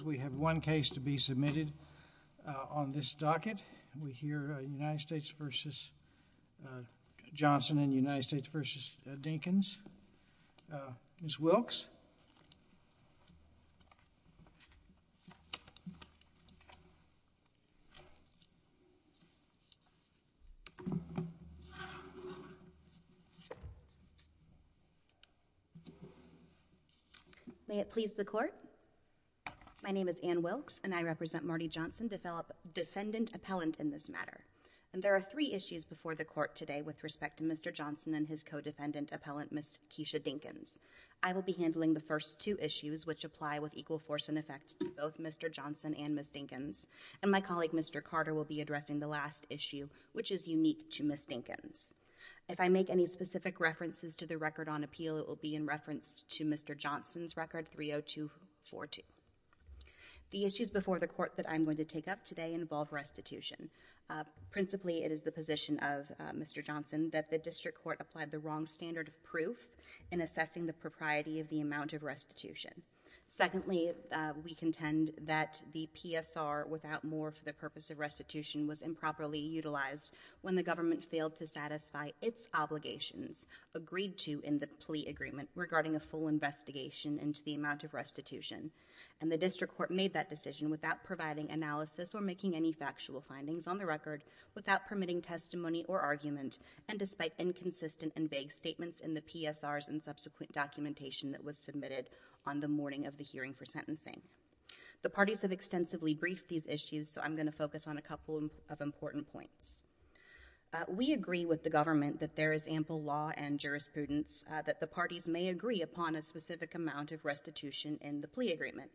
We have one case to be submitted on this docket. We hear United States v. Johnson and United My name is Anne Wilkes and I represent Marty Johnson to develop defendant appellant in this matter and there are three issues before the court today with Respect to mr. Johnson and his co-defendant appellant miss Keisha Dinkins I will be handling the first two issues which apply with equal force and effect to both. Mr Johnson and miss Dinkins and my colleague. Mr. Carter will be addressing the last issue which is unique to miss Dinkins If I make any specific references to the record on appeal, it will be in reference to mr Johnson's record three oh two four two The issues before the court that I'm going to take up today involve restitution Principally it is the position of mr Johnson that the district court applied the wrong standard of proof in assessing the propriety of the amount of restitution Secondly, we contend that the PSR without more for the purpose of restitution was improperly utilized when the government failed to satisfy its obligations agreed to in the plea agreement regarding a full investigation into the amount of restitution and the district court made that decision without providing analysis or making any factual findings on the record without permitting testimony or argument and despite inconsistent and vague statements in the PSRs and subsequent documentation that was submitted on the morning of the hearing for sentencing The parties have extensively briefed these issues. So I'm going to focus on a couple of important points We agree with the government that there is ample law and jurisprudence That the parties may agree upon a specific amount of restitution in the plea agreement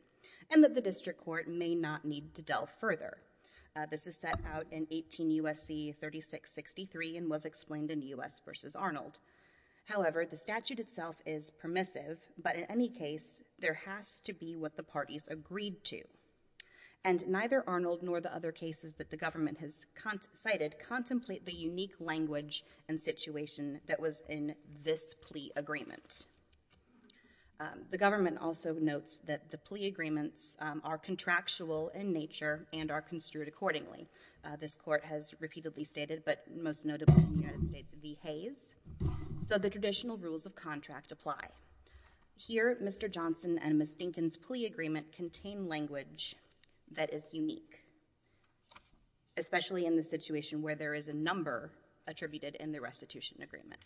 and that the district court may not need to delve further This is set out in 18 USC 36 63 and was explained in us vs. Arnold however, the statute itself is permissive, but in any case there has to be what the parties agreed to and Contemplate the unique language and situation that was in this plea agreement The government also notes that the plea agreements are contractual in nature and are construed accordingly This court has repeatedly stated but most notable United States of the Hays So the traditional rules of contract apply Here, mr. Johnson and miss Dinkins plea agreement contain language. That is unique Especially in the situation where there is a number attributed in the restitution agreement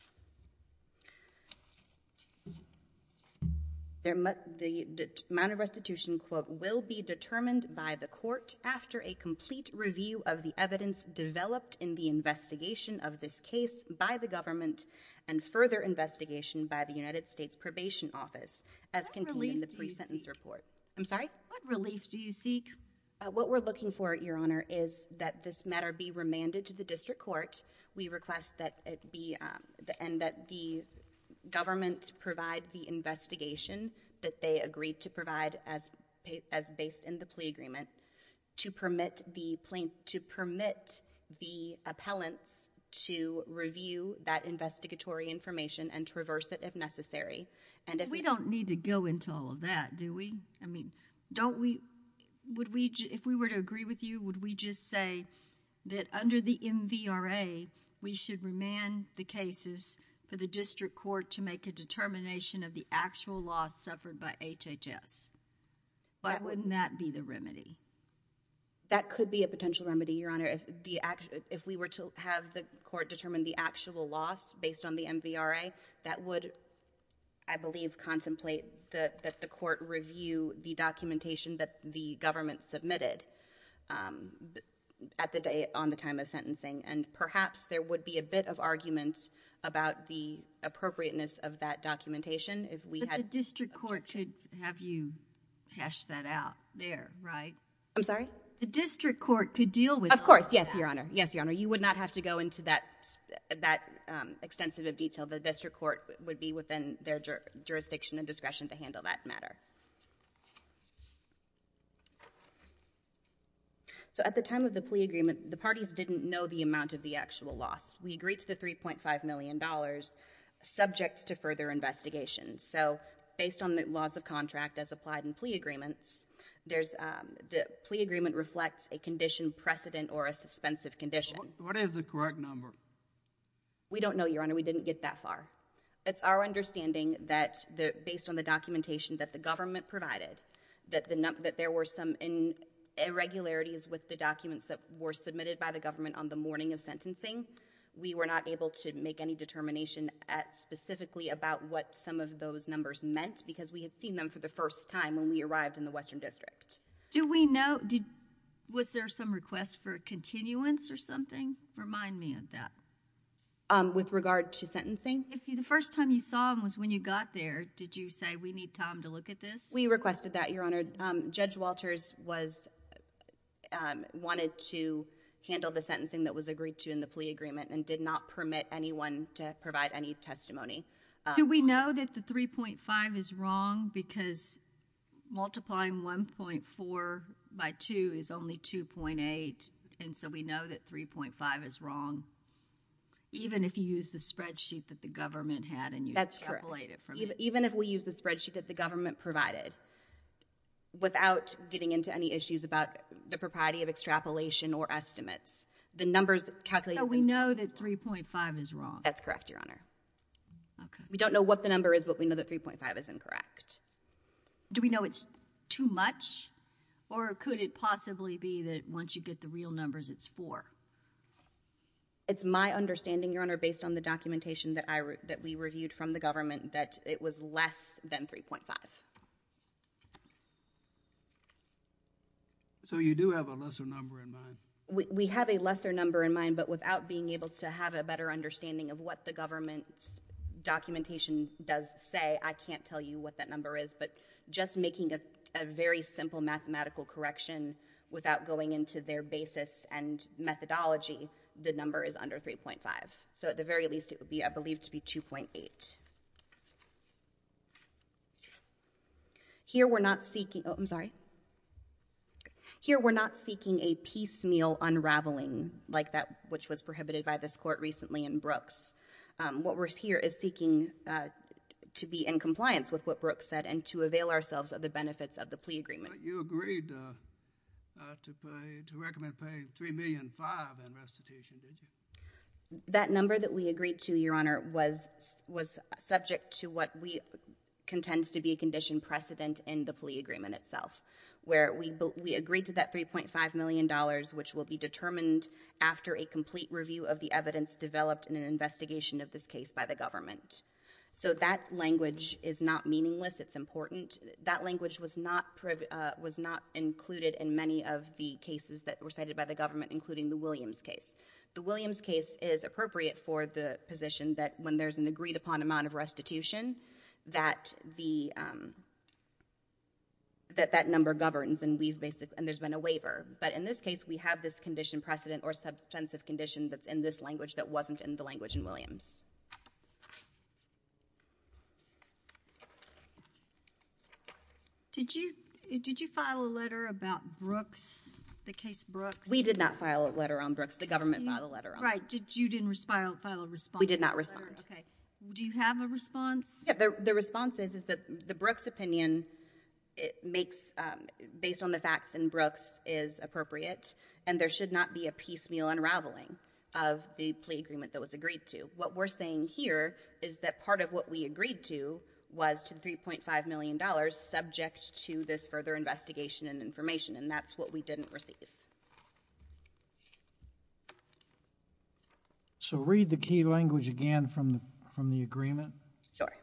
There must the amount of restitution quote will be determined by the court after a complete review of the evidence developed in the investigation of this case by the government and Further investigation by the United States Probation Office as can be in the pre-sentence report. I'm sorry Relief do you seek what we're looking for at your honor? is that this matter be remanded to the district court, we request that it be the end that the government provide the investigation that they agreed to provide as as based in the plea agreement to permit the plaintiff to permit the appellants to Review that investigatory information and traverse it if necessary And if we don't need to go into all of that do we I mean don't we Would we if we were to agree with you? Would we just say that under the MV RA? We should remand the cases for the district court to make a determination of the actual loss suffered by HHS Why wouldn't that be the remedy? That could be a potential remedy your honor if the act if we were to have the court determine the actual loss based on the MV RA that would I believe contemplate that the court review the documentation that the government submitted At the day on the time of sentencing and perhaps there would be a bit of argument about the Appropriateness of that documentation if we had a district court should have you hash that out there, right? I'm sorry, the district court could deal with of course. Yes, your honor. Yes, your honor You would not have to go into that that Extensive of detail the district court would be within their jurisdiction and discretion to handle that matter So at the time of the plea agreement the parties didn't know the amount of the actual loss we agreed to the 3.5 million dollars Subjects to further investigation. So based on the laws of contract as applied in plea agreements There's the plea agreement reflects a condition precedent or a suspensive condition. What is the correct number? We don't know your honor we didn't get that far it's our understanding that the based on the documentation that the government provided that the number that there were some in Irregularities with the documents that were submitted by the government on the morning of sentencing We were not able to make any determination at Specifically about what some of those numbers meant because we had seen them for the first time when we arrived in the Western District Do we know did was there some requests for a continuance or something? Remind me of that With regard to sentencing if you the first time you saw him was when you got there Did you say we need time to look at this? We requested that your honor judge Walters was Wanted to Handle the sentencing that was agreed to in the plea agreement and did not permit anyone to provide any testimony do we know that the 3.5 is wrong because Multiplying 1.4 by 2 is only 2.8. And so we know that 3.5 is wrong Even if you use the spreadsheet that the government had and you that's correct Even if we use the spreadsheet that the government provided Without getting into any issues about the propriety of extrapolation or estimates the numbers It's happening. We know that 3.5 is wrong. That's correct, Your Honor We don't know what the number is, but we know that 3.5 is incorrect Do we know it's too much or could it possibly be that once you get the real numbers it's four It's my understanding your honor based on the documentation that I wrote that we reviewed from the government that it was less than 3.5 So you do have a lesser number in mind We have a lesser number in mind, but without being able to have a better understanding of what the government's Doesn't say I can't tell you what that number is but just making a very simple mathematical correction without going into their basis and Methodology the number is under 3.5. So at the very least it would be I believe to be 2.8 Here we're not seeking I'm sorry Here we're not seeking a piecemeal unraveling like that, which was prohibited by this court recently in Brooks What we're here is seeking To be in compliance with what Brooks said and to avail ourselves of the benefits of the plea agreement you agreed That number that we agreed to your honor was was subject to what we Contends to be a condition precedent in the plea agreement itself where we we agreed to that 3.5 million dollars Which will be determined after a complete review of the evidence developed in an investigation of this case by the government So that language is not meaningless It's important that language was not Was not included in many of the cases that were cited by the government including the Williams case the Williams case is appropriate for the position that when there's an agreed-upon amount of restitution that the That that number governs and we've basically and there's been a waiver But in this case, we have this condition precedent or substantive condition that's in this language that wasn't in the language in Williams Did you did you file a letter about Brooks the case Brooks we did not file a letter on Brooks the government Not a letter right did you didn't respond? We did not respond. Okay. Do you have a response? Yeah, the response is is that the Brooks opinion it makes Based on the facts and Brooks is appropriate and there should not be a piecemeal Unraveling of the plea agreement that was agreed to what we're saying here Is that part of what we agreed to was to 3.5 million dollars subject to this further investigation and information? And that's what we didn't receive So read the key language again from from the agreement Sure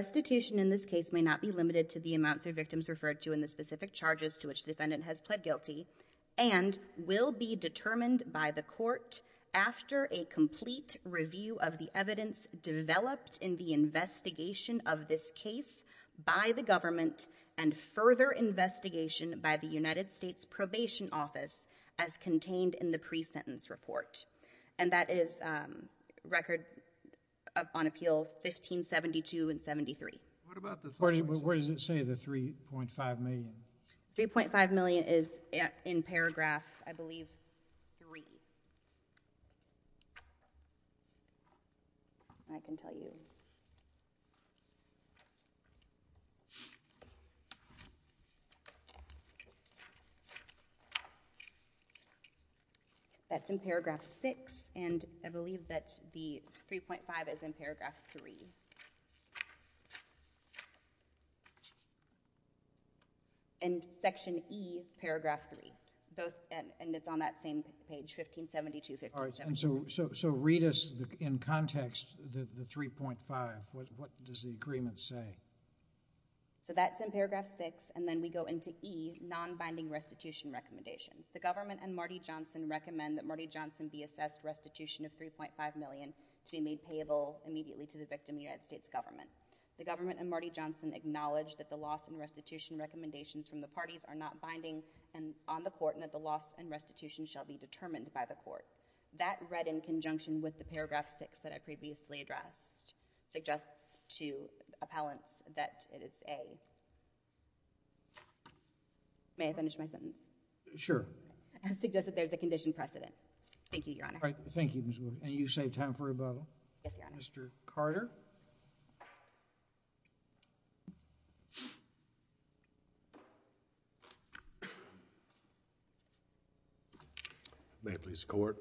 Restitution in this case may not be limited to the amounts or victims referred to in the specific charges to which the defendant has pled guilty and Will be determined by the court after a complete review of the evidence developed in the investigation of this case by the government and further investigation by the United States Probation Office as Record on appeal 1572 and 73 Where does it say the 3.5 million 3.5 million is in paragraph? I believe I Can tell you That's in paragraph 6 and I believe that the 3.5 is in paragraph 3 And Section e paragraph 3 both and it's on that same page 1572 All right, and so so read us in context the 3.5. What does the agreement say? So that's in paragraph 6 and then we go into e non-binding restitution Recommendations the government and Marty Johnson recommend that Marty Johnson be assessed restitution of 3.5 million to be made payable Immediately to the victim United States government the government and Marty Johnson Acknowledge that the loss and restitution Recommendations from the parties are not binding and on the court and that the loss and restitution shall be determined by the court That read in conjunction with the paragraph 6 that I previously addressed suggests to appellants that it is a May I finish my sentence sure I suggest that there's a condition precedent. Thank you. Your honor. Thank you And you save time for a bottle. Yes, mr. Carter I May please court.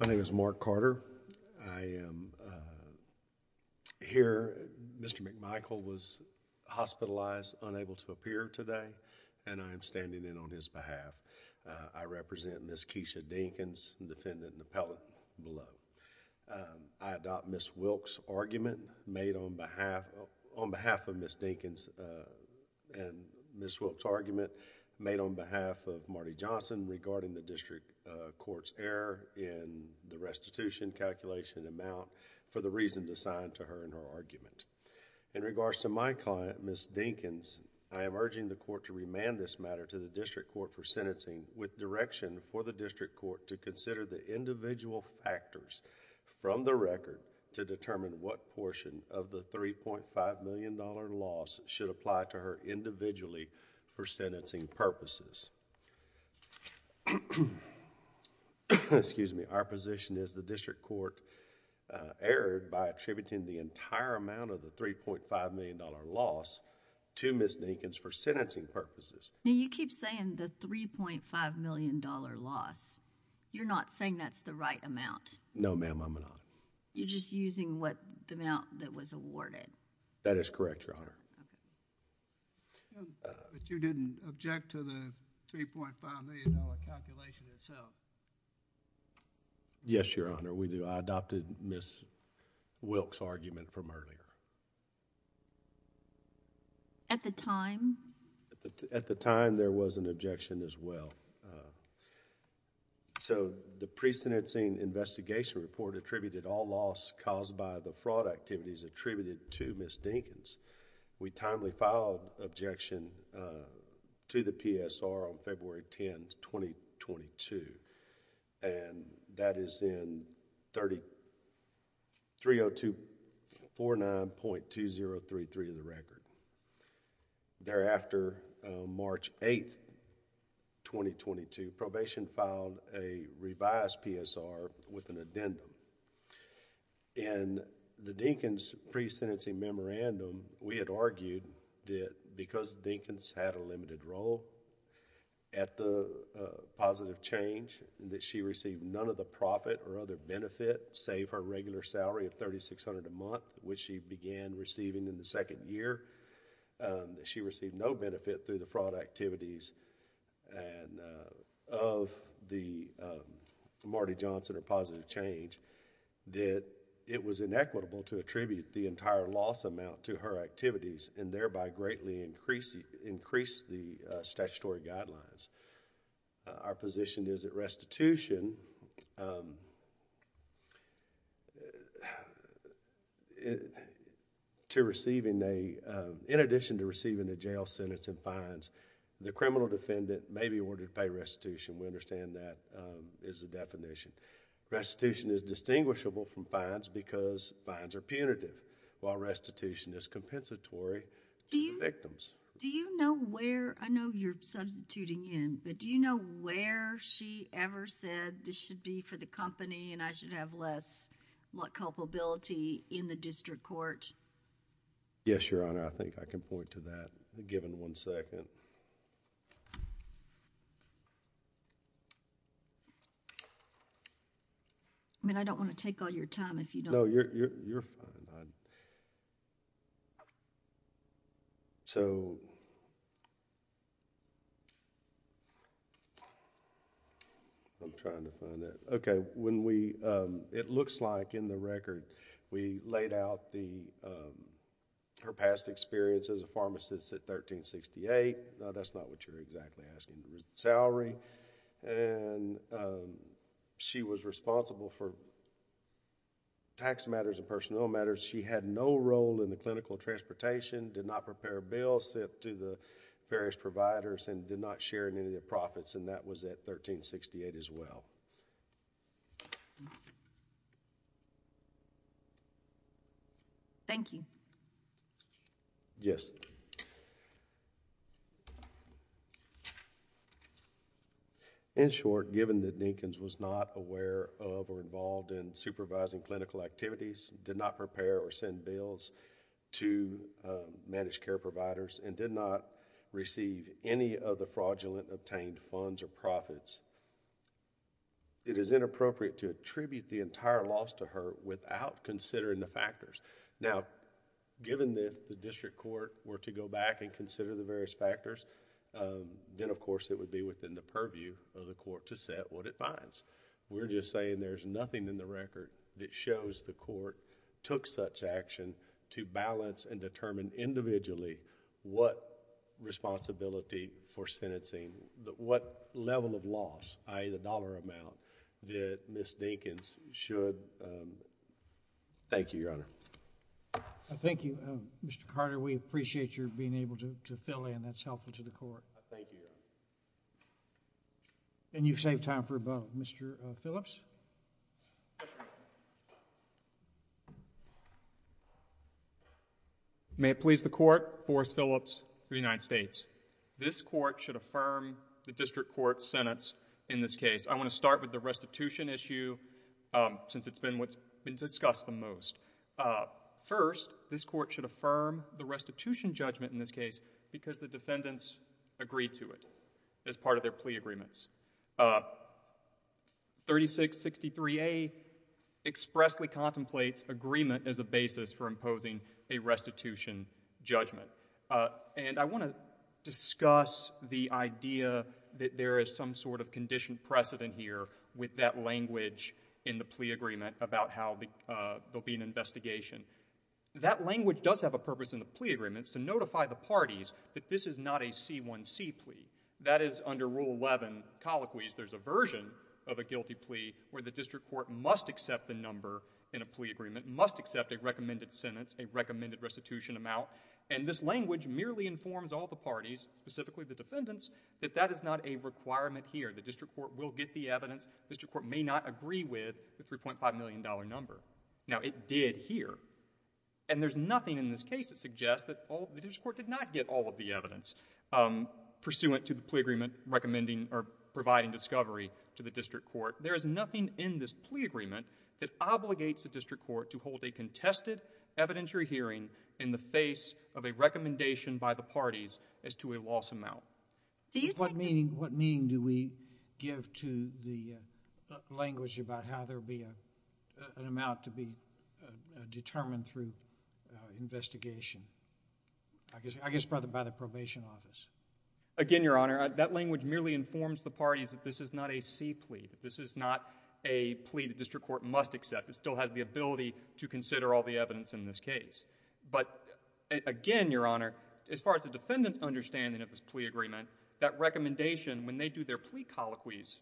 My name is Mark Carter. I am Here mr. McMichael was Hospitalized unable to appear today, and I am standing in on his behalf. I represent miss Keisha Dinkins defendant and appellate below I adopt miss Wilkes argument made on behalf on behalf of miss Dinkins and Miss Wilkes argument made on behalf of Marty Johnson regarding the district courts error in the restitution Calculation amount for the reason to sign to her in her argument in regards to my client miss Dinkins I am urging the court to remand this matter to the district court for sentencing with Direction for the district court to consider the individual factors From the record to determine what portion of the 3.5 million dollar loss should apply to her individually for sentencing purposes Excuse me our position is the district court Erred by attributing the entire amount of the 3.5 million dollar loss To miss Dinkins for sentencing purposes now you keep saying that 3.5 million dollar loss You're not saying that's the right amount. No ma'am. I'm not you're just using what the amount that was awarded that is correct Yes, your honor we do I adopted miss Wilkes argument from earlier At the time at the time there was an objection as well So the pre-sentencing investigation report attributed all loss caused by the fraud activities attributed to miss Dinkins We timely filed objection to the PSR on February 10, 2022 and That is in 30 three oh two four nine point two zero three three of the record thereafter March 8th 2022 probation filed a revised PSR with an addendum and The Dinkins pre-sentencing memorandum we had argued that because Dinkins had a limited role at the Positive change that she received none of the profit or other benefit save her regular salary of thirty six hundred a month Which she began receiving in the second year she received no benefit through the fraud activities and of the Marty Johnson or positive change That it was inequitable to attribute the entire loss amount to her activities and thereby greatly increasing increase the statutory guidelines Our position is at restitution To Receiving a in addition to receiving a jail sentence and fines the criminal defendant may be awarded pay restitution We understand that is the definition Restitution is distinguishable from fines because fines are punitive while restitution is compensatory Victims, do you know where I know you're substituting in but do you know where she ever said? This should be for the company and I should have less Luck culpability in the district court Yes, your honor. I think I can point to that given one second I mean, I don't want to take all your time if you know you're So I I'm trying to find that. Okay, when we it looks like in the record we laid out the her past experience as a pharmacist at 1368, that's not what you're exactly asking the salary and She was responsible for Tax matters and personnel matters. She had no role in the clinical transportation did not prepare bills to the various providers And did not share in any of their profits and that was at 1368 as well Thank you, yes In Short given that Dinkins was not aware of or involved in supervising clinical activities did not prepare or send bills to Managed care providers and did not receive any of the fraudulent obtained funds or profits It is inappropriate to attribute the entire loss to her without considering the factors now Given this the district court were to go back and consider the various factors Then of course, it would be within the purview of the court to set what it finds We're just saying there's nothing in the record that shows the court took such action to balance and determine individually what Responsibility for sentencing what level of loss I the dollar amount that miss Dinkins should Thank you, your honor Thank You. Mr. Carter, we appreciate your being able to fill in that's helpful to the court And you've saved time for about mr. Phillips May it please the court for Phillips the United States this court should affirm the district court sentence in this case I want to start with the restitution issue Since it's been what's been discussed the most First this court should affirm the restitution judgment in this case because the defendants Agreed to it as part of their plea agreements 36 63 a Expressly contemplates agreement as a basis for imposing a restitution judgment and I want to Discuss the idea that there is some sort of conditioned precedent here with that language in the plea agreement About how the there'll be an investigation That language does have a purpose in the plea agreements to notify the parties that this is not a c1c plea That is under rule 11 Colloquies there's a version of a guilty plea where the district court must accept the number in a plea agreement must accept a recommended sentence a recommended restitution amount and this language merely informs all the parties specifically the defendants that that is not a Requirement here. The district court will get the evidence. Mr. Court may not agree with the 3.5 million dollar number now it did here and There's nothing in this case that suggests that all the district court did not get all of the evidence Pursuant to the plea agreement recommending or providing discovery to the district court There is nothing in this plea agreement that obligates the district court to hold a contested Evidentiary hearing in the face of a recommendation by the parties as to a loss amount What meaning what meaning do we give to the language about how there be a amount to be determined through investigation I Guess I guess brother by the probation office Again, your honor that language merely informs the parties that this is not a c-plea This is not a plea the district court must accept. It still has the ability to consider all the evidence in this case, but Again your honor as far as the defendants understanding of this plea agreement that recommendation when they do their plea colloquies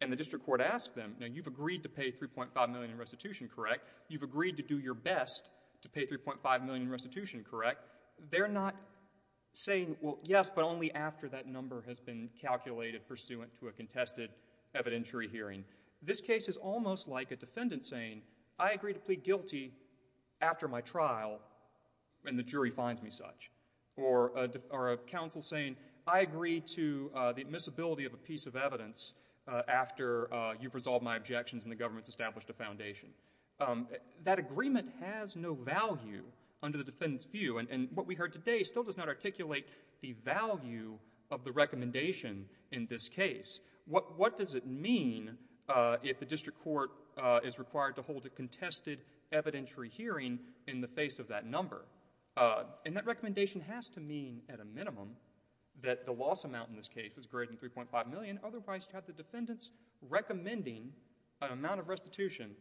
and The district court asked them now you've agreed to pay 3.5 million in restitution, correct? You've agreed to do your best to pay 3.5 million restitution, correct? They're not Saying well, yes, but only after that number has been calculated pursuant to a contested evidentiary hearing This case is almost like a defendant saying I agree to plead guilty After my trial when the jury finds me such or Or a counsel saying I agree to the admissibility of a piece of evidence After you've resolved my objections and the government's established a foundation That agreement has no value under the defendants view and what we heard today still does not articulate the value Of the recommendation in this case. What what does it mean? If the district court is required to hold a contested evidentiary hearing in the face of that number And that recommendation has to mean at a minimum that the loss amount in this case was greater than 3.5 million Otherwise you have the defendants Recommending an amount of restitution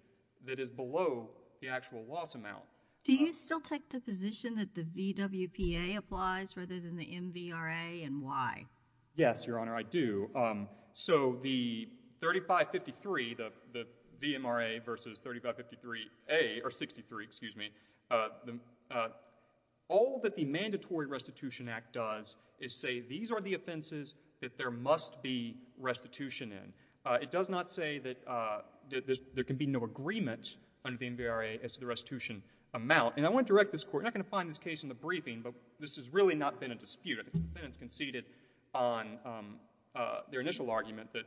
that is below the actual loss amount Do you still take the position that the VWPA applies rather than the MVRA and why? Yes, your honor I do so the 3553 the the VMRA versus 3553 a or 63, excuse me All that the Mandatory Restitution Act does is say these are the offenses that there must be Restitution in it does not say that There can be no agreement on the MVRA as to the restitution amount and I want to direct this court I'm gonna find this case in the briefing, but this has really not been a dispute. It's conceded on Their initial argument that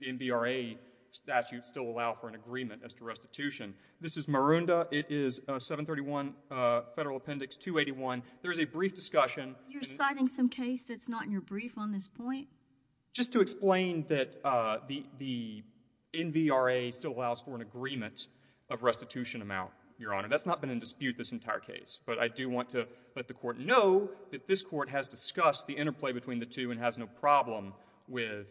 the MVRA Statute still allow for an agreement as to restitution. This is Maroondah. It is a 731 Federal appendix 281. There is a brief discussion. You're citing some case that's not in your brief on this point just to explain that the the MVRA still allows for an agreement of restitution amount your honor That's not been in dispute this entire case but I do want to let the court know that this court has discussed the interplay between the two and has no problem with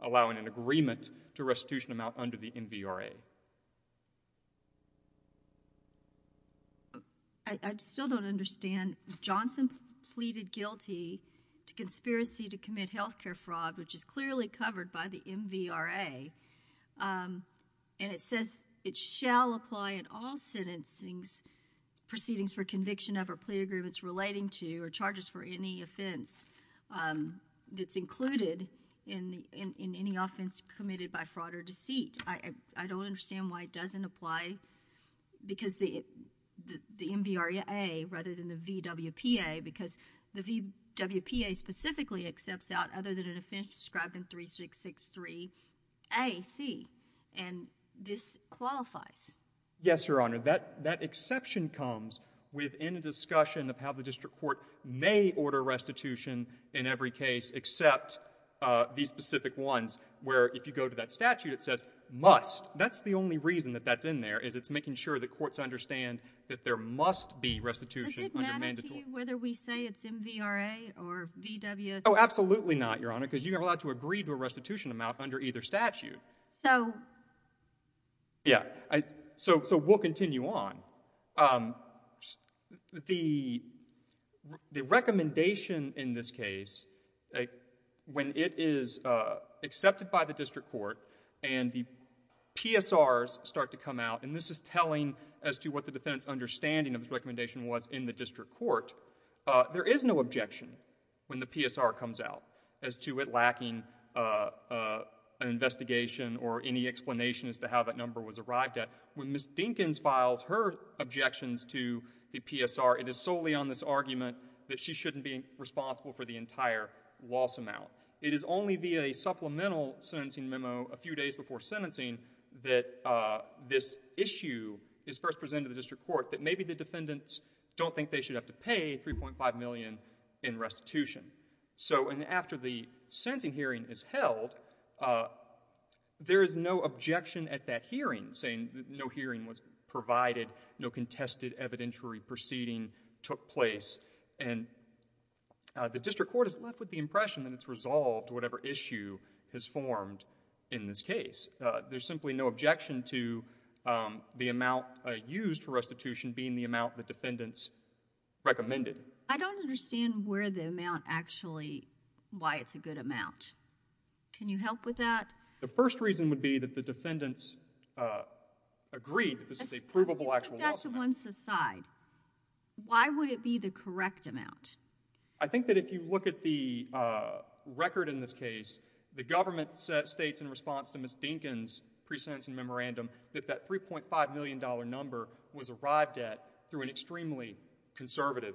Allowing an agreement to restitution amount under the MVRA I Still don't understand Johnson pleaded guilty to conspiracy to commit health care fraud, which is clearly covered by the MVRA And it says it shall apply in all sentencings Proceedings for conviction of or plea agreements relating to or charges for any offense That's included in the in any offense committed by fraud or deceit. I I don't understand why it doesn't apply because the the MVRA rather than the VWPA because the VWPA specifically accepts out other than an offense described in three six six three a C and This qualifies Yes, your honor that that exception comes within a discussion of how the district court may order restitution in every case except These specific ones where if you go to that statute, it says must that's the only reason that that's in there Is it's making sure the courts understand that there must be restitution Whether we say it's MVRA or VW. Oh, absolutely not your honor because you're allowed to agree to a restitution amount under either statute So Yeah, I so so we'll continue on The the recommendation in this case a when it is accepted by the district court and the PSRs start to come out and this is telling as to what the defendants understanding of this recommendation was in the district court There is no objection when the PSR comes out as to it lacking An investigation or any explanation as to how that number was arrived at when miss Dinkins files her Objections to the PSR it is solely on this argument that she shouldn't be responsible for the entire loss amount it is only via a supplemental sentencing memo a few days before sentencing that This issue is first presented the district court that maybe the defendants don't think they should have to pay 3.5 million in Restitution so and after the sentencing hearing is held There is no objection at that hearing saying no hearing was provided no contested evidentiary proceeding took place and The district court is left with the impression that it's resolved. Whatever issue has formed in this case. There's simply no objection to The amount used for restitution being the amount the defendants Recommended I don't understand where the amount actually why it's a good amount Can you help with that? The first reason would be that the defendants? Agreed this is a provable actual once aside Why would it be the correct amount? I think that if you look at the Record in this case the government states in response to miss Dinkins Presence and memorandum that that 3.5 million dollar number was arrived at through an extremely conservative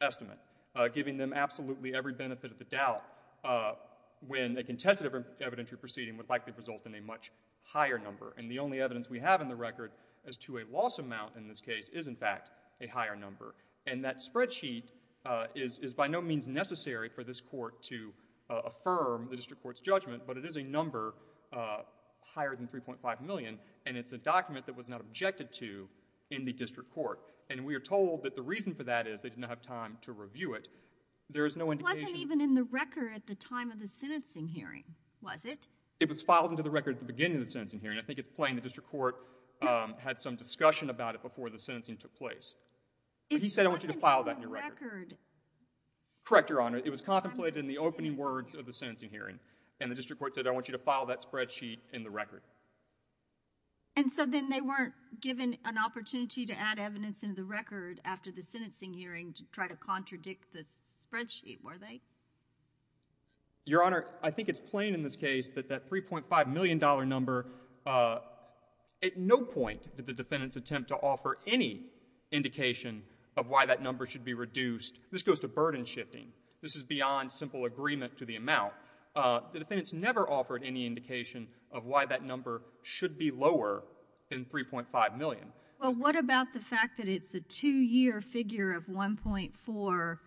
Estimate giving them absolutely every benefit of the doubt When they contested evidentiary proceeding would likely result in a much higher number and the only evidence we have in the record as to a Loss amount in this case is in fact a higher number and that spreadsheet Is is by no means necessary for this court to affirm the district court's judgment, but it is a number Higher than 3.5 million and it's a document that was not objected to in the district court And we are told that the reason for that is they didn't have time to review it There is no one even in the record at the time of the sentencing hearing Was it it was filed into the record at the beginning of the sentencing hearing? I think it's playing the district court Had some discussion about it before the sentencing took place He said I want you to file that record Correct your honor It was contemplated in the opening words of the sentencing hearing and the district court said I want you to file that spreadsheet in the record and So then they weren't given an opportunity to add evidence into the record after the sentencing hearing to try to contradict this Spreadsheet were they? Your honor. I think it's plain in this case that that 3.5 million dollar number At no point did the defendants attempt to offer any Indication of why that number should be reduced. This goes to burden shifting. This is beyond simple agreement to the amount The defendants never offered any indication of why that number should be lower than 3.5 million Well, what about the fact that it's a two-year figure of 1.4?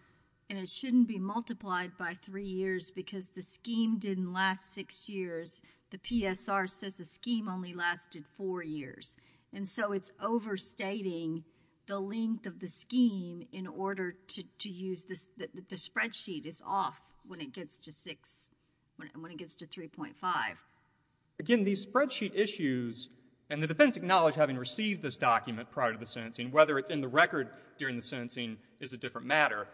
And it shouldn't be multiplied by three years because the scheme didn't last six years The PSR says the scheme only lasted four years And so it's overstating the length of the scheme in order to use this Spreadsheet is off when it gets to six when it gets to 3.5 Again, these spreadsheet issues and the defense acknowledged having received this document prior to the sentencing whether it's in the record during the sentencing is a different matter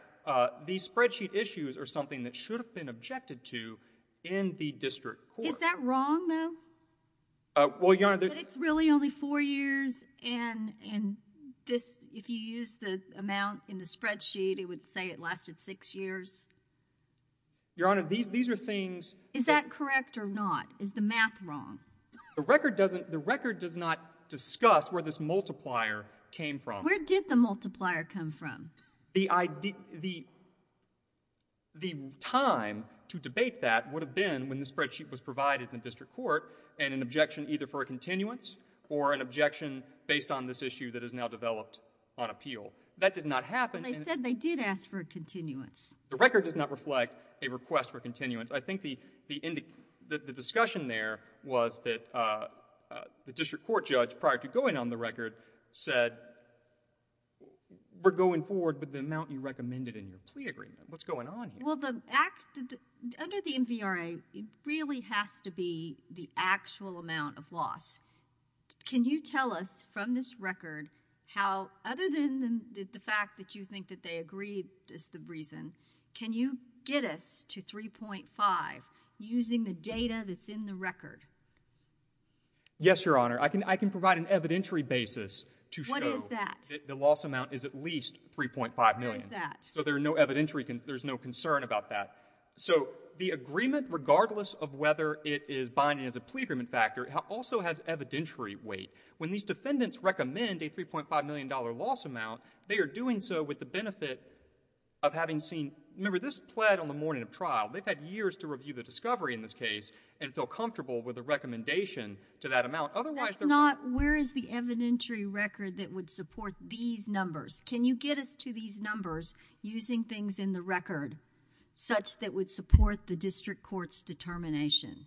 These spreadsheet issues are something that should have been objected to in the district. Is that wrong though? Well, your honor, it's really only four years and and this if you use the amount in the spreadsheet It would say it lasted six years Your honor these these are things is that correct or not is the math wrong The record doesn't the record does not discuss where this multiplier came from. Where did the multiplier come from the idea the the time to debate that would have been when the spreadsheet was provided in the district court and an objection either for a continuance or An objection based on this issue that is now developed on appeal that did not happen They did ask for a continuance the record does not reflect a request for continuance I think the the indicate that the discussion there was that the district court judge prior to going on the record said We're going forward with the amount you recommended in your plea agreement what's going on? Well the act under the MVRA it really has to be the actual amount of loss Can you tell us from this record how other than the fact that you think that they agreed is the reason Can you get us to 3.5? Using the data that's in the record Yes, your honor I can I can provide an evidentiary basis to show that the loss amount is at least 3.5 million So there are no evidentiary because there's no concern about that The agreement regardless of whether it is binding as a plea agreement factor It also has evidentiary weight when these defendants recommend a 3.5 million dollar loss amount They are doing so with the benefit of having seen remember this pled on the morning of trial They've had years to review the discovery in this case and feel comfortable with the recommendation to that amount Otherwise not where is the evidentiary record that would support these numbers? Can you get us to these numbers using things in the record? Such that would support the district courts determination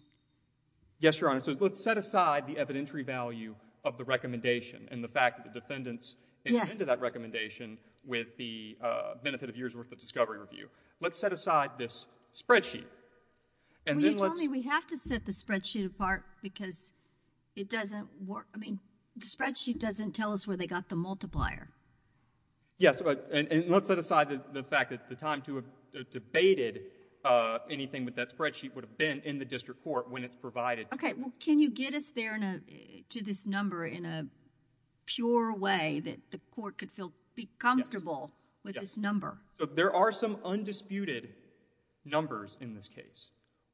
Yes, your honor. So let's set aside the evidentiary value of the recommendation and the fact that the defendants Yes to that recommendation with the benefit of years worth of discovery review. Let's set aside this spreadsheet and Then what we have to set the spreadsheet apart because it doesn't work. I mean the spreadsheet doesn't tell us where they got the multiplier Yes, but and let's set aside the fact that the time to have debated Anything with that spreadsheet would have been in the district court when it's provided. Okay. Well, can you get us there in a to this number in a Pure way that the court could feel be comfortable with this number. So there are some undisputed Numbers in this case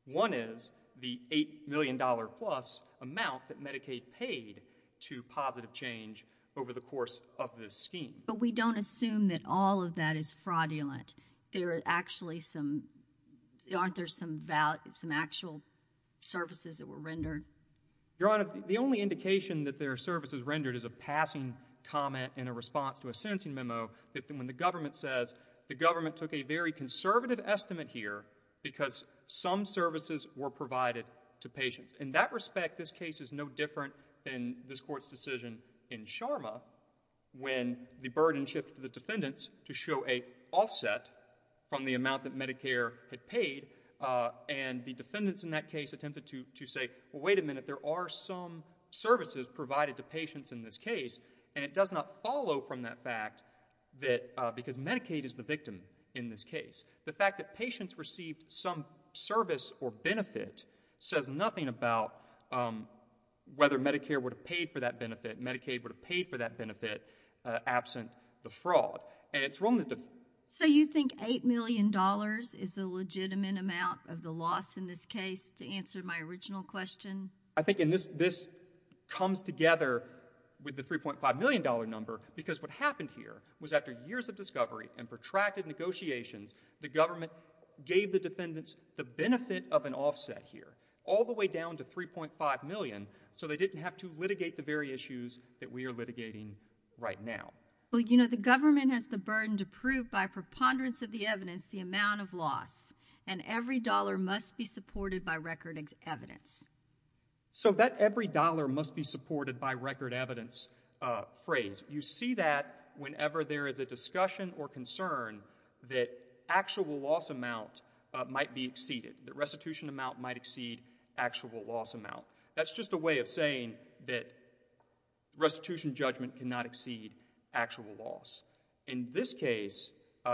one is the eight million dollar plus amount that Medicaid paid To positive change over the course of this scheme, but we don't assume that all of that is fraudulent There are actually some Aren't there some about some actual? services that were rendered Your honor the only indication that their service is rendered as a passing Comment in a response to a sentencing memo that when the government says the government took a very conservative estimate here Because some services were provided to patients in that respect. This case is no different than this court's decision in Sharma When the burden shift to the defendants to show a offset from the amount that Medicare had paid And the defendants in that case attempted to to say wait a minute There are some services provided to patients in this case and it does not follow from that fact Because Medicaid is the victim in this case the fact that patients received some service or benefit says nothing about Whether Medicare would have paid for that benefit Medicaid would have paid for that benefit Absent the fraud and it's wrong. So you think eight million dollars is the legitimate amount of the loss in this case? To answer my original question. I think in this this Together with the 3.5 million dollar number because what happened here was after years of discovery and protracted negotiations the government Gave the defendants the benefit of an offset here all the way down to 3.5 million So they didn't have to litigate the very issues that we are litigating right now Well, you know the government has the burden to prove by preponderance of the evidence the amount of loss and Every dollar must be supported by record X evidence So that every dollar must be supported by record evidence Phrase you see that whenever there is a discussion or concern that actual loss amount Might be exceeded the restitution amount might exceed actual loss amount. That's just a way of saying that Restitution judgment cannot exceed actual loss in this case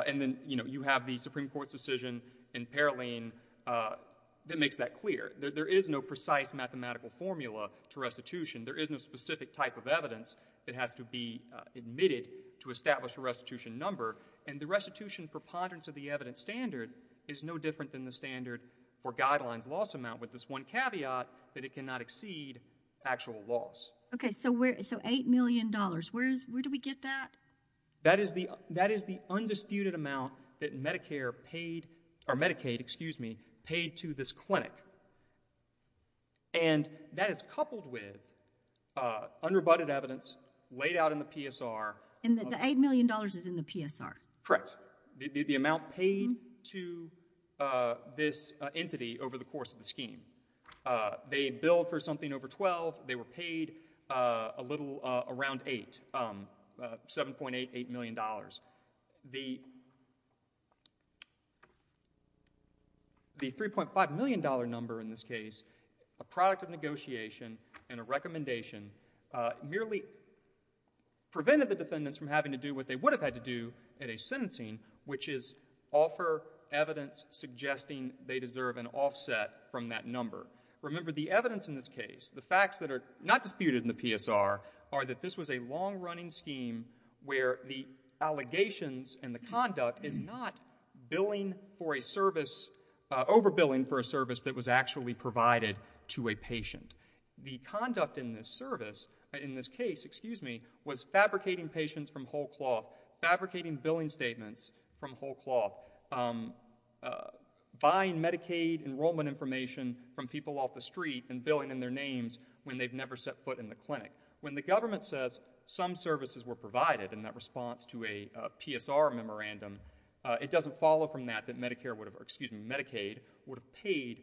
and then you know, you have the Supreme Court's decision in Paroline That makes that clear there is no precise mathematical formula to restitution There is no specific type of evidence that has to be Admitted to establish a restitution number and the restitution preponderance of the evidence standard is no different than the standard For guidelines loss amount with this one caveat that it cannot exceed actual loss. Okay, so where so eight million dollars Where's where do we get that? That is the that is the undisputed amount that Medicare paid or Medicaid, excuse me paid to this clinic and That is coupled with Unrebutted evidence laid out in the PSR and the eight million dollars is in the PSR. Correct the amount paid to this entity over the course of the scheme They billed for something over 12. They were paid a little around eight Seven point eight eight million dollars the The 3.5 million dollar number in this case a product of negotiation and a recommendation merely Prevented the defendants from having to do what they would have had to do at a sentencing which is offer Evidence suggesting they deserve an offset from that number Remember the evidence in this case the facts that are not disputed in the PSR are that this was a long-running scheme where the Allegations and the conduct is not billing for a service Overbilling for a service that was actually provided to a patient the conduct in this service in this case Excuse me was fabricating patients from whole cloth fabricating billing statements from whole cloth buying Medicaid enrollment information from people off the street and billing in their names when they've never set foot in the clinic when the Government says some services were provided in that response to a PSR memorandum It doesn't follow from that that Medicare would have excuse me Medicaid would have paid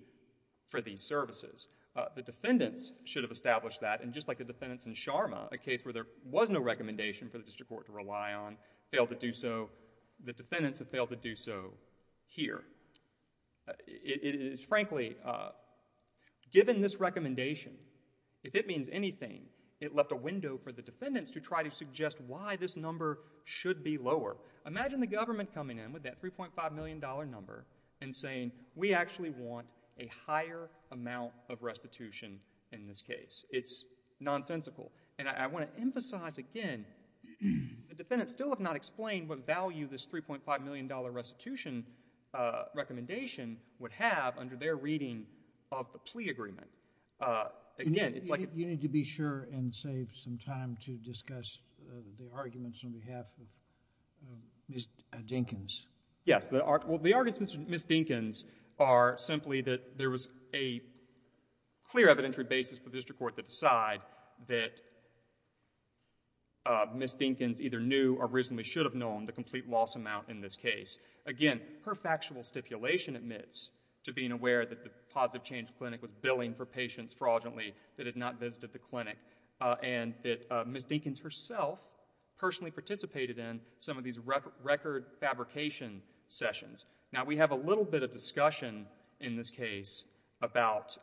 for these services The defendants should have established that and just like the defendants in Sharma a case where there was no Recommendation for the district court to rely on failed to do so the defendants have failed to do so here It is frankly Given this recommendation If it means anything it left a window for the defendants to try to suggest why this number should be lower Imagine the government coming in with that three point five million dollar number and saying we actually want a higher amount of restitution in this case It's nonsensical and I want to emphasize again The defendants still have not explained what value this three point five million dollar restitution Recommendation would have under their reading of the plea agreement Again, it's like you need to be sure and save some time to discuss the arguments on behalf of Miss Jenkins. Yes that are well the arguments. Mr. Miss Dinkins are simply that there was a Decision to decide that Miss Dinkins either knew or reasonably should have known the complete loss amount in this case again Perfectual stipulation admits to being aware that the positive change clinic was billing for patients fraudulently that had not visited the clinic And that Miss Dinkins herself Personally participated in some of these record fabrication sessions now We have a little bit of discussion in this case about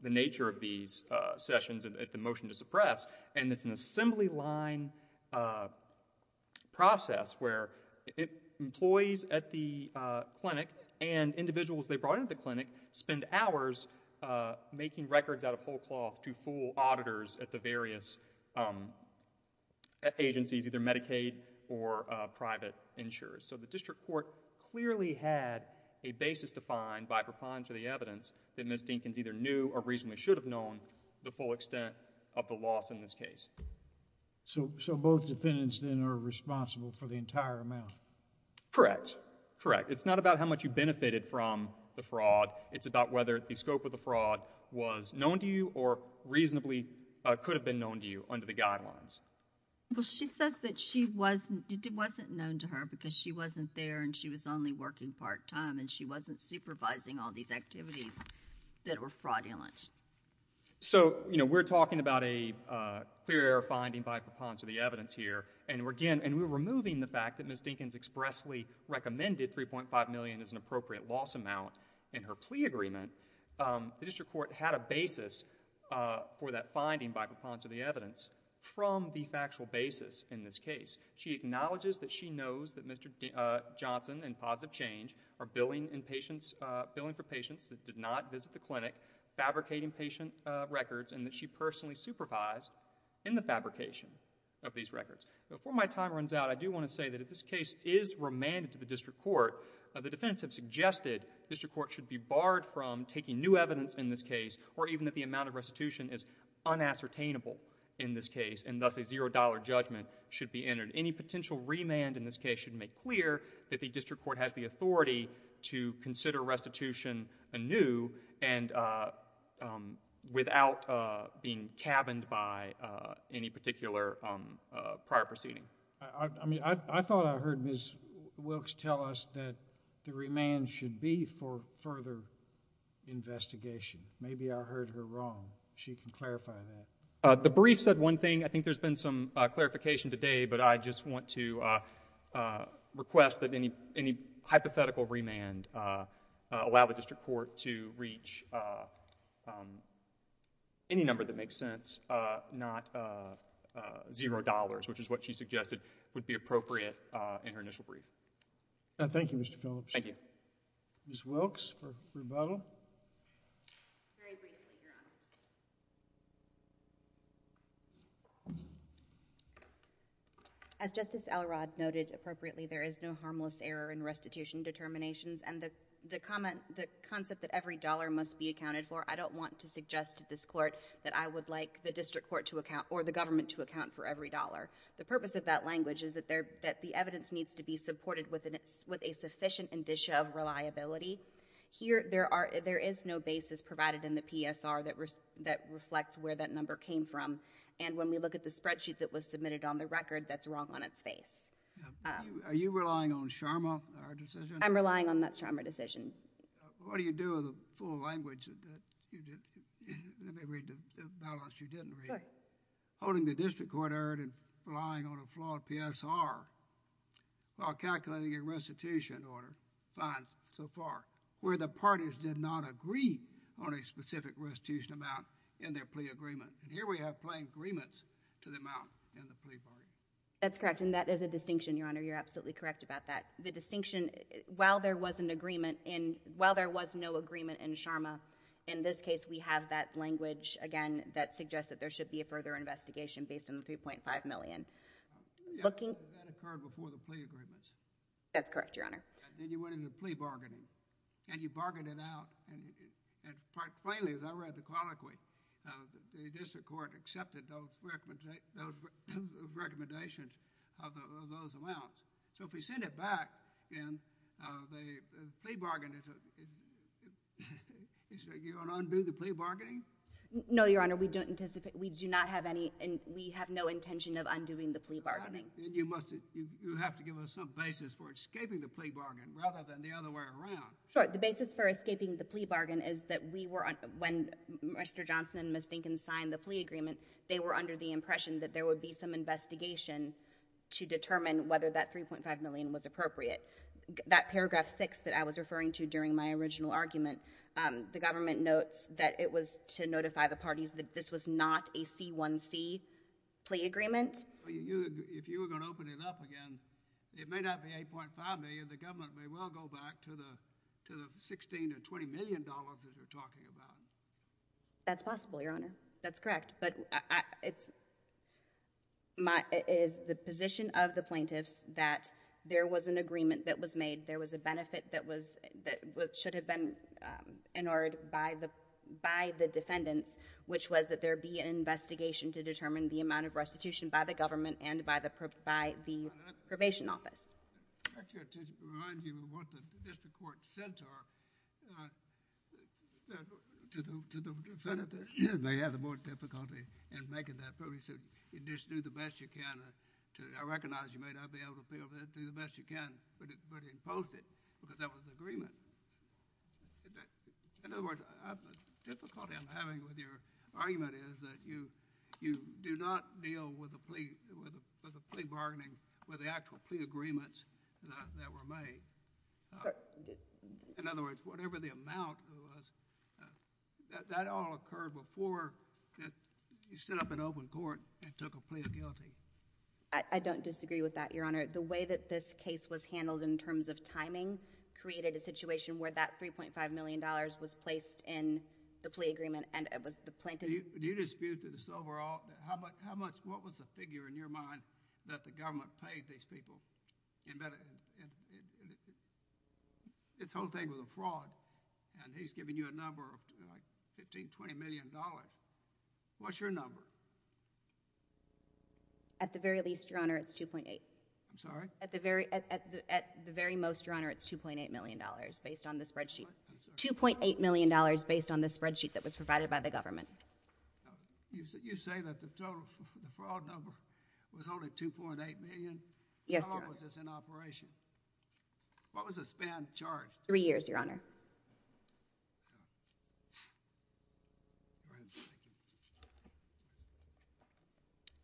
The nature of these sessions and at the motion to suppress and it's an assembly line Process where it employees at the clinic and individuals they brought into the clinic spend hours Making records out of whole cloth to fool auditors at the various Agencies either Medicaid or Miss Jenkins either knew or reasonably should have known the full extent of the loss in this case So so both defendants dinner responsible for the entire amount Correct. Correct. It's not about how much you benefited from the fraud It's about whether the scope of the fraud was known to you or reasonably could have been known to you under the guidelines Well, she says that she wasn't it wasn't known to her because she wasn't there and she was only working part-time And she wasn't supervising all these activities that were fraudulent so, you know, we're talking about a Clear finding by propons of the evidence here and we're again and we're removing the fact that Miss Dinkins expressly Recommended 3.5 million is an appropriate loss amount in her plea agreement The district court had a basis For that finding by propons of the evidence from the factual basis in this case. She acknowledges that she knows that mr Johnson and positive change are billing in patients billing for patients that did not visit the clinic Fabricating patient records and that she personally supervised in the fabrication of these records before my time runs out I do want to say that if this case is Remanded to the district court the defense have suggested District Court should be barred from taking new evidence in this case or even that the amount of restitution is Unascertainable in this case and thus a zero-dollar judgment should be entered any potential remand in this case should make clear that the district court has the authority to consider restitution anew and Without being cabined by any particular Prior proceeding. I mean, I thought I heard miss Wilkes tell us that the remand should be for further Investigation, maybe I heard her wrong. She can clarify that the brief said one thing. I think there's been some clarification today but I just want to Request that any any hypothetical remand allow the district court to reach Any number that makes sense not $0 which is what she suggested would be appropriate in her initial brief. Thank you. Mr. Phillips. Thank you Wilkes As justice Elrod noted appropriately there is no harmless error in restitution Determinations and the the comment the concept that every dollar must be accounted for I don't want to suggest to this court that I would like the district court to account or the government to account for every dollar The purpose of that language is that they're that the evidence needs to be supported with an it's with a sufficient indicia of reliability Here there are there is no basis provided in the PSR that was that reflects where that number came from And when we look at the spreadsheet that was submitted on the record, that's wrong on its face Are you relying on Sharma? I'm relying on that's trauma decision. What do you do? Full language Holding the district court erred and relying on a flawed PSR While calculating a restitution order finds so far where the parties did not agree on a specific Restitution amount in their plea agreement and here we have plain agreements to the amount That's correct. And that is a distinction your honor You're absolutely correct about that the distinction while there was an agreement in while there was no agreement in Sharma in this case We have that language again that suggests that there should be a further investigation based on the 3.5 million Looking before the plea agreements. That's correct. Your honor. Did you win in the plea bargaining and you bargained it out? Plainly as I read the colloquy the district court accepted those Recommendations So if we send it back No, your honor we don't anticipate we do not have any and we have no intention of undoing the plea bargaining You must you have to give us some basis for escaping the plea bargain rather than the other way around Sure, the basis for escaping the plea bargain is that we were on when mr. Johnson and Miss Dinkins signed the plea agreement They were under the impression that there would be some investigation to determine whether that 3.5 million was appropriate That paragraph 6 that I was referring to during my original argument The government notes that it was to notify the parties that this was not a c1c plea agreement If you were going to open it up again It may not be 8.5 million the government may well go back to the to the 16 to 20 million dollars that you're talking about That's possible. Your honor. That's correct. But it's My is the position of the plaintiffs that there was an agreement that was made there was a benefit that was that should have been in order by the by the defendants which was that there be an restitution by the government and by the provide the probation office I recognize you may not be able to feel that do the best you can but it but imposed it because that was the agreement In other words Difficulty I'm having with your argument is that you you do not deal with a plea with a plea bargaining with the actual plea agreements that were made In other words, whatever the amount That all occurred before You stood up an open court and took a plea of guilty I don't disagree with that your honor the way that this case was handled in terms of timing Created a situation where that 3.5 million dollars was placed in the plea agreement and it was the plaintiff Do you dispute to this overall? How about how much what was the figure in your mind that the government paid these people? Its whole thing was a fraud and he's giving you a number of 15 20 million dollars, what's your number? At the very least your honor, it's 2.8 I'm sorry at the very at the very most your honor It's 2.8 million dollars based on the spreadsheet 2.8 million dollars based on the spreadsheet that was provided by the government You say that the total fraud number was only 2.8 million. Yes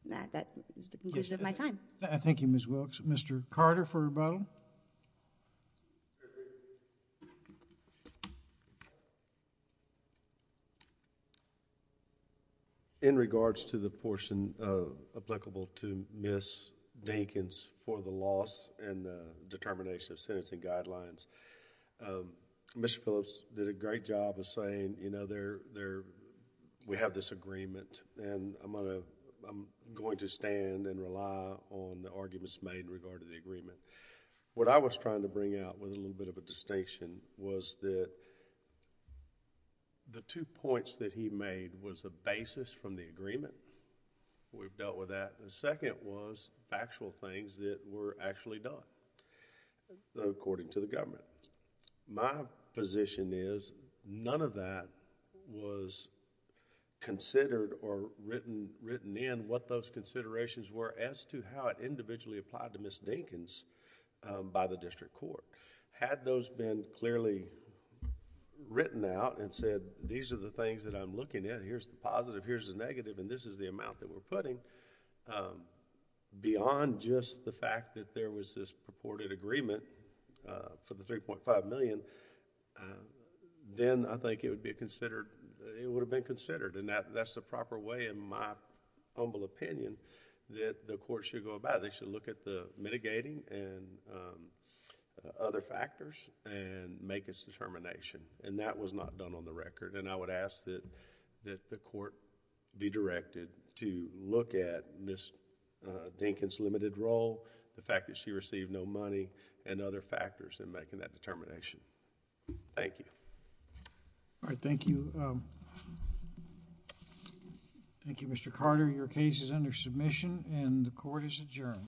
Now that is the conclusion of my time Thank You. Ms. Wilkes. Mr. Carter for rebuttal In regards to the portion applicable to Miss Dinkins for the loss and determination of sentencing guidelines Mr. Phillips did a great job of saying, you know, they're there I'm going to stand and rely on the arguments made in regard to the agreement what I was trying to bring out with a little bit of a distinction was that The two points that he made was a basis from the agreement We've dealt with that. The second was factual things that were actually done According to the government my position is none of that was Considered or written written in what those considerations were as to how it individually applied to Miss Dinkins By the district court had those been clearly Written out and said these are the things that I'm looking at. Here's the positive. Here's the negative and this is the amount that we're putting Beyond just the fact that there was this purported agreement for the 3.5 million Then I think it would be considered it would have been considered and that that's the proper way in my Humble opinion that the court should go about it. They should look at the mitigating and Other factors and make its determination and that was not done on the record and I would ask that that the court be directed to look at this Dinkins limited role the fact that she received no money and other factors in making that determination Thank you All right. Thank you Thank You, mr. Carter your case is under submission and the court is adjourned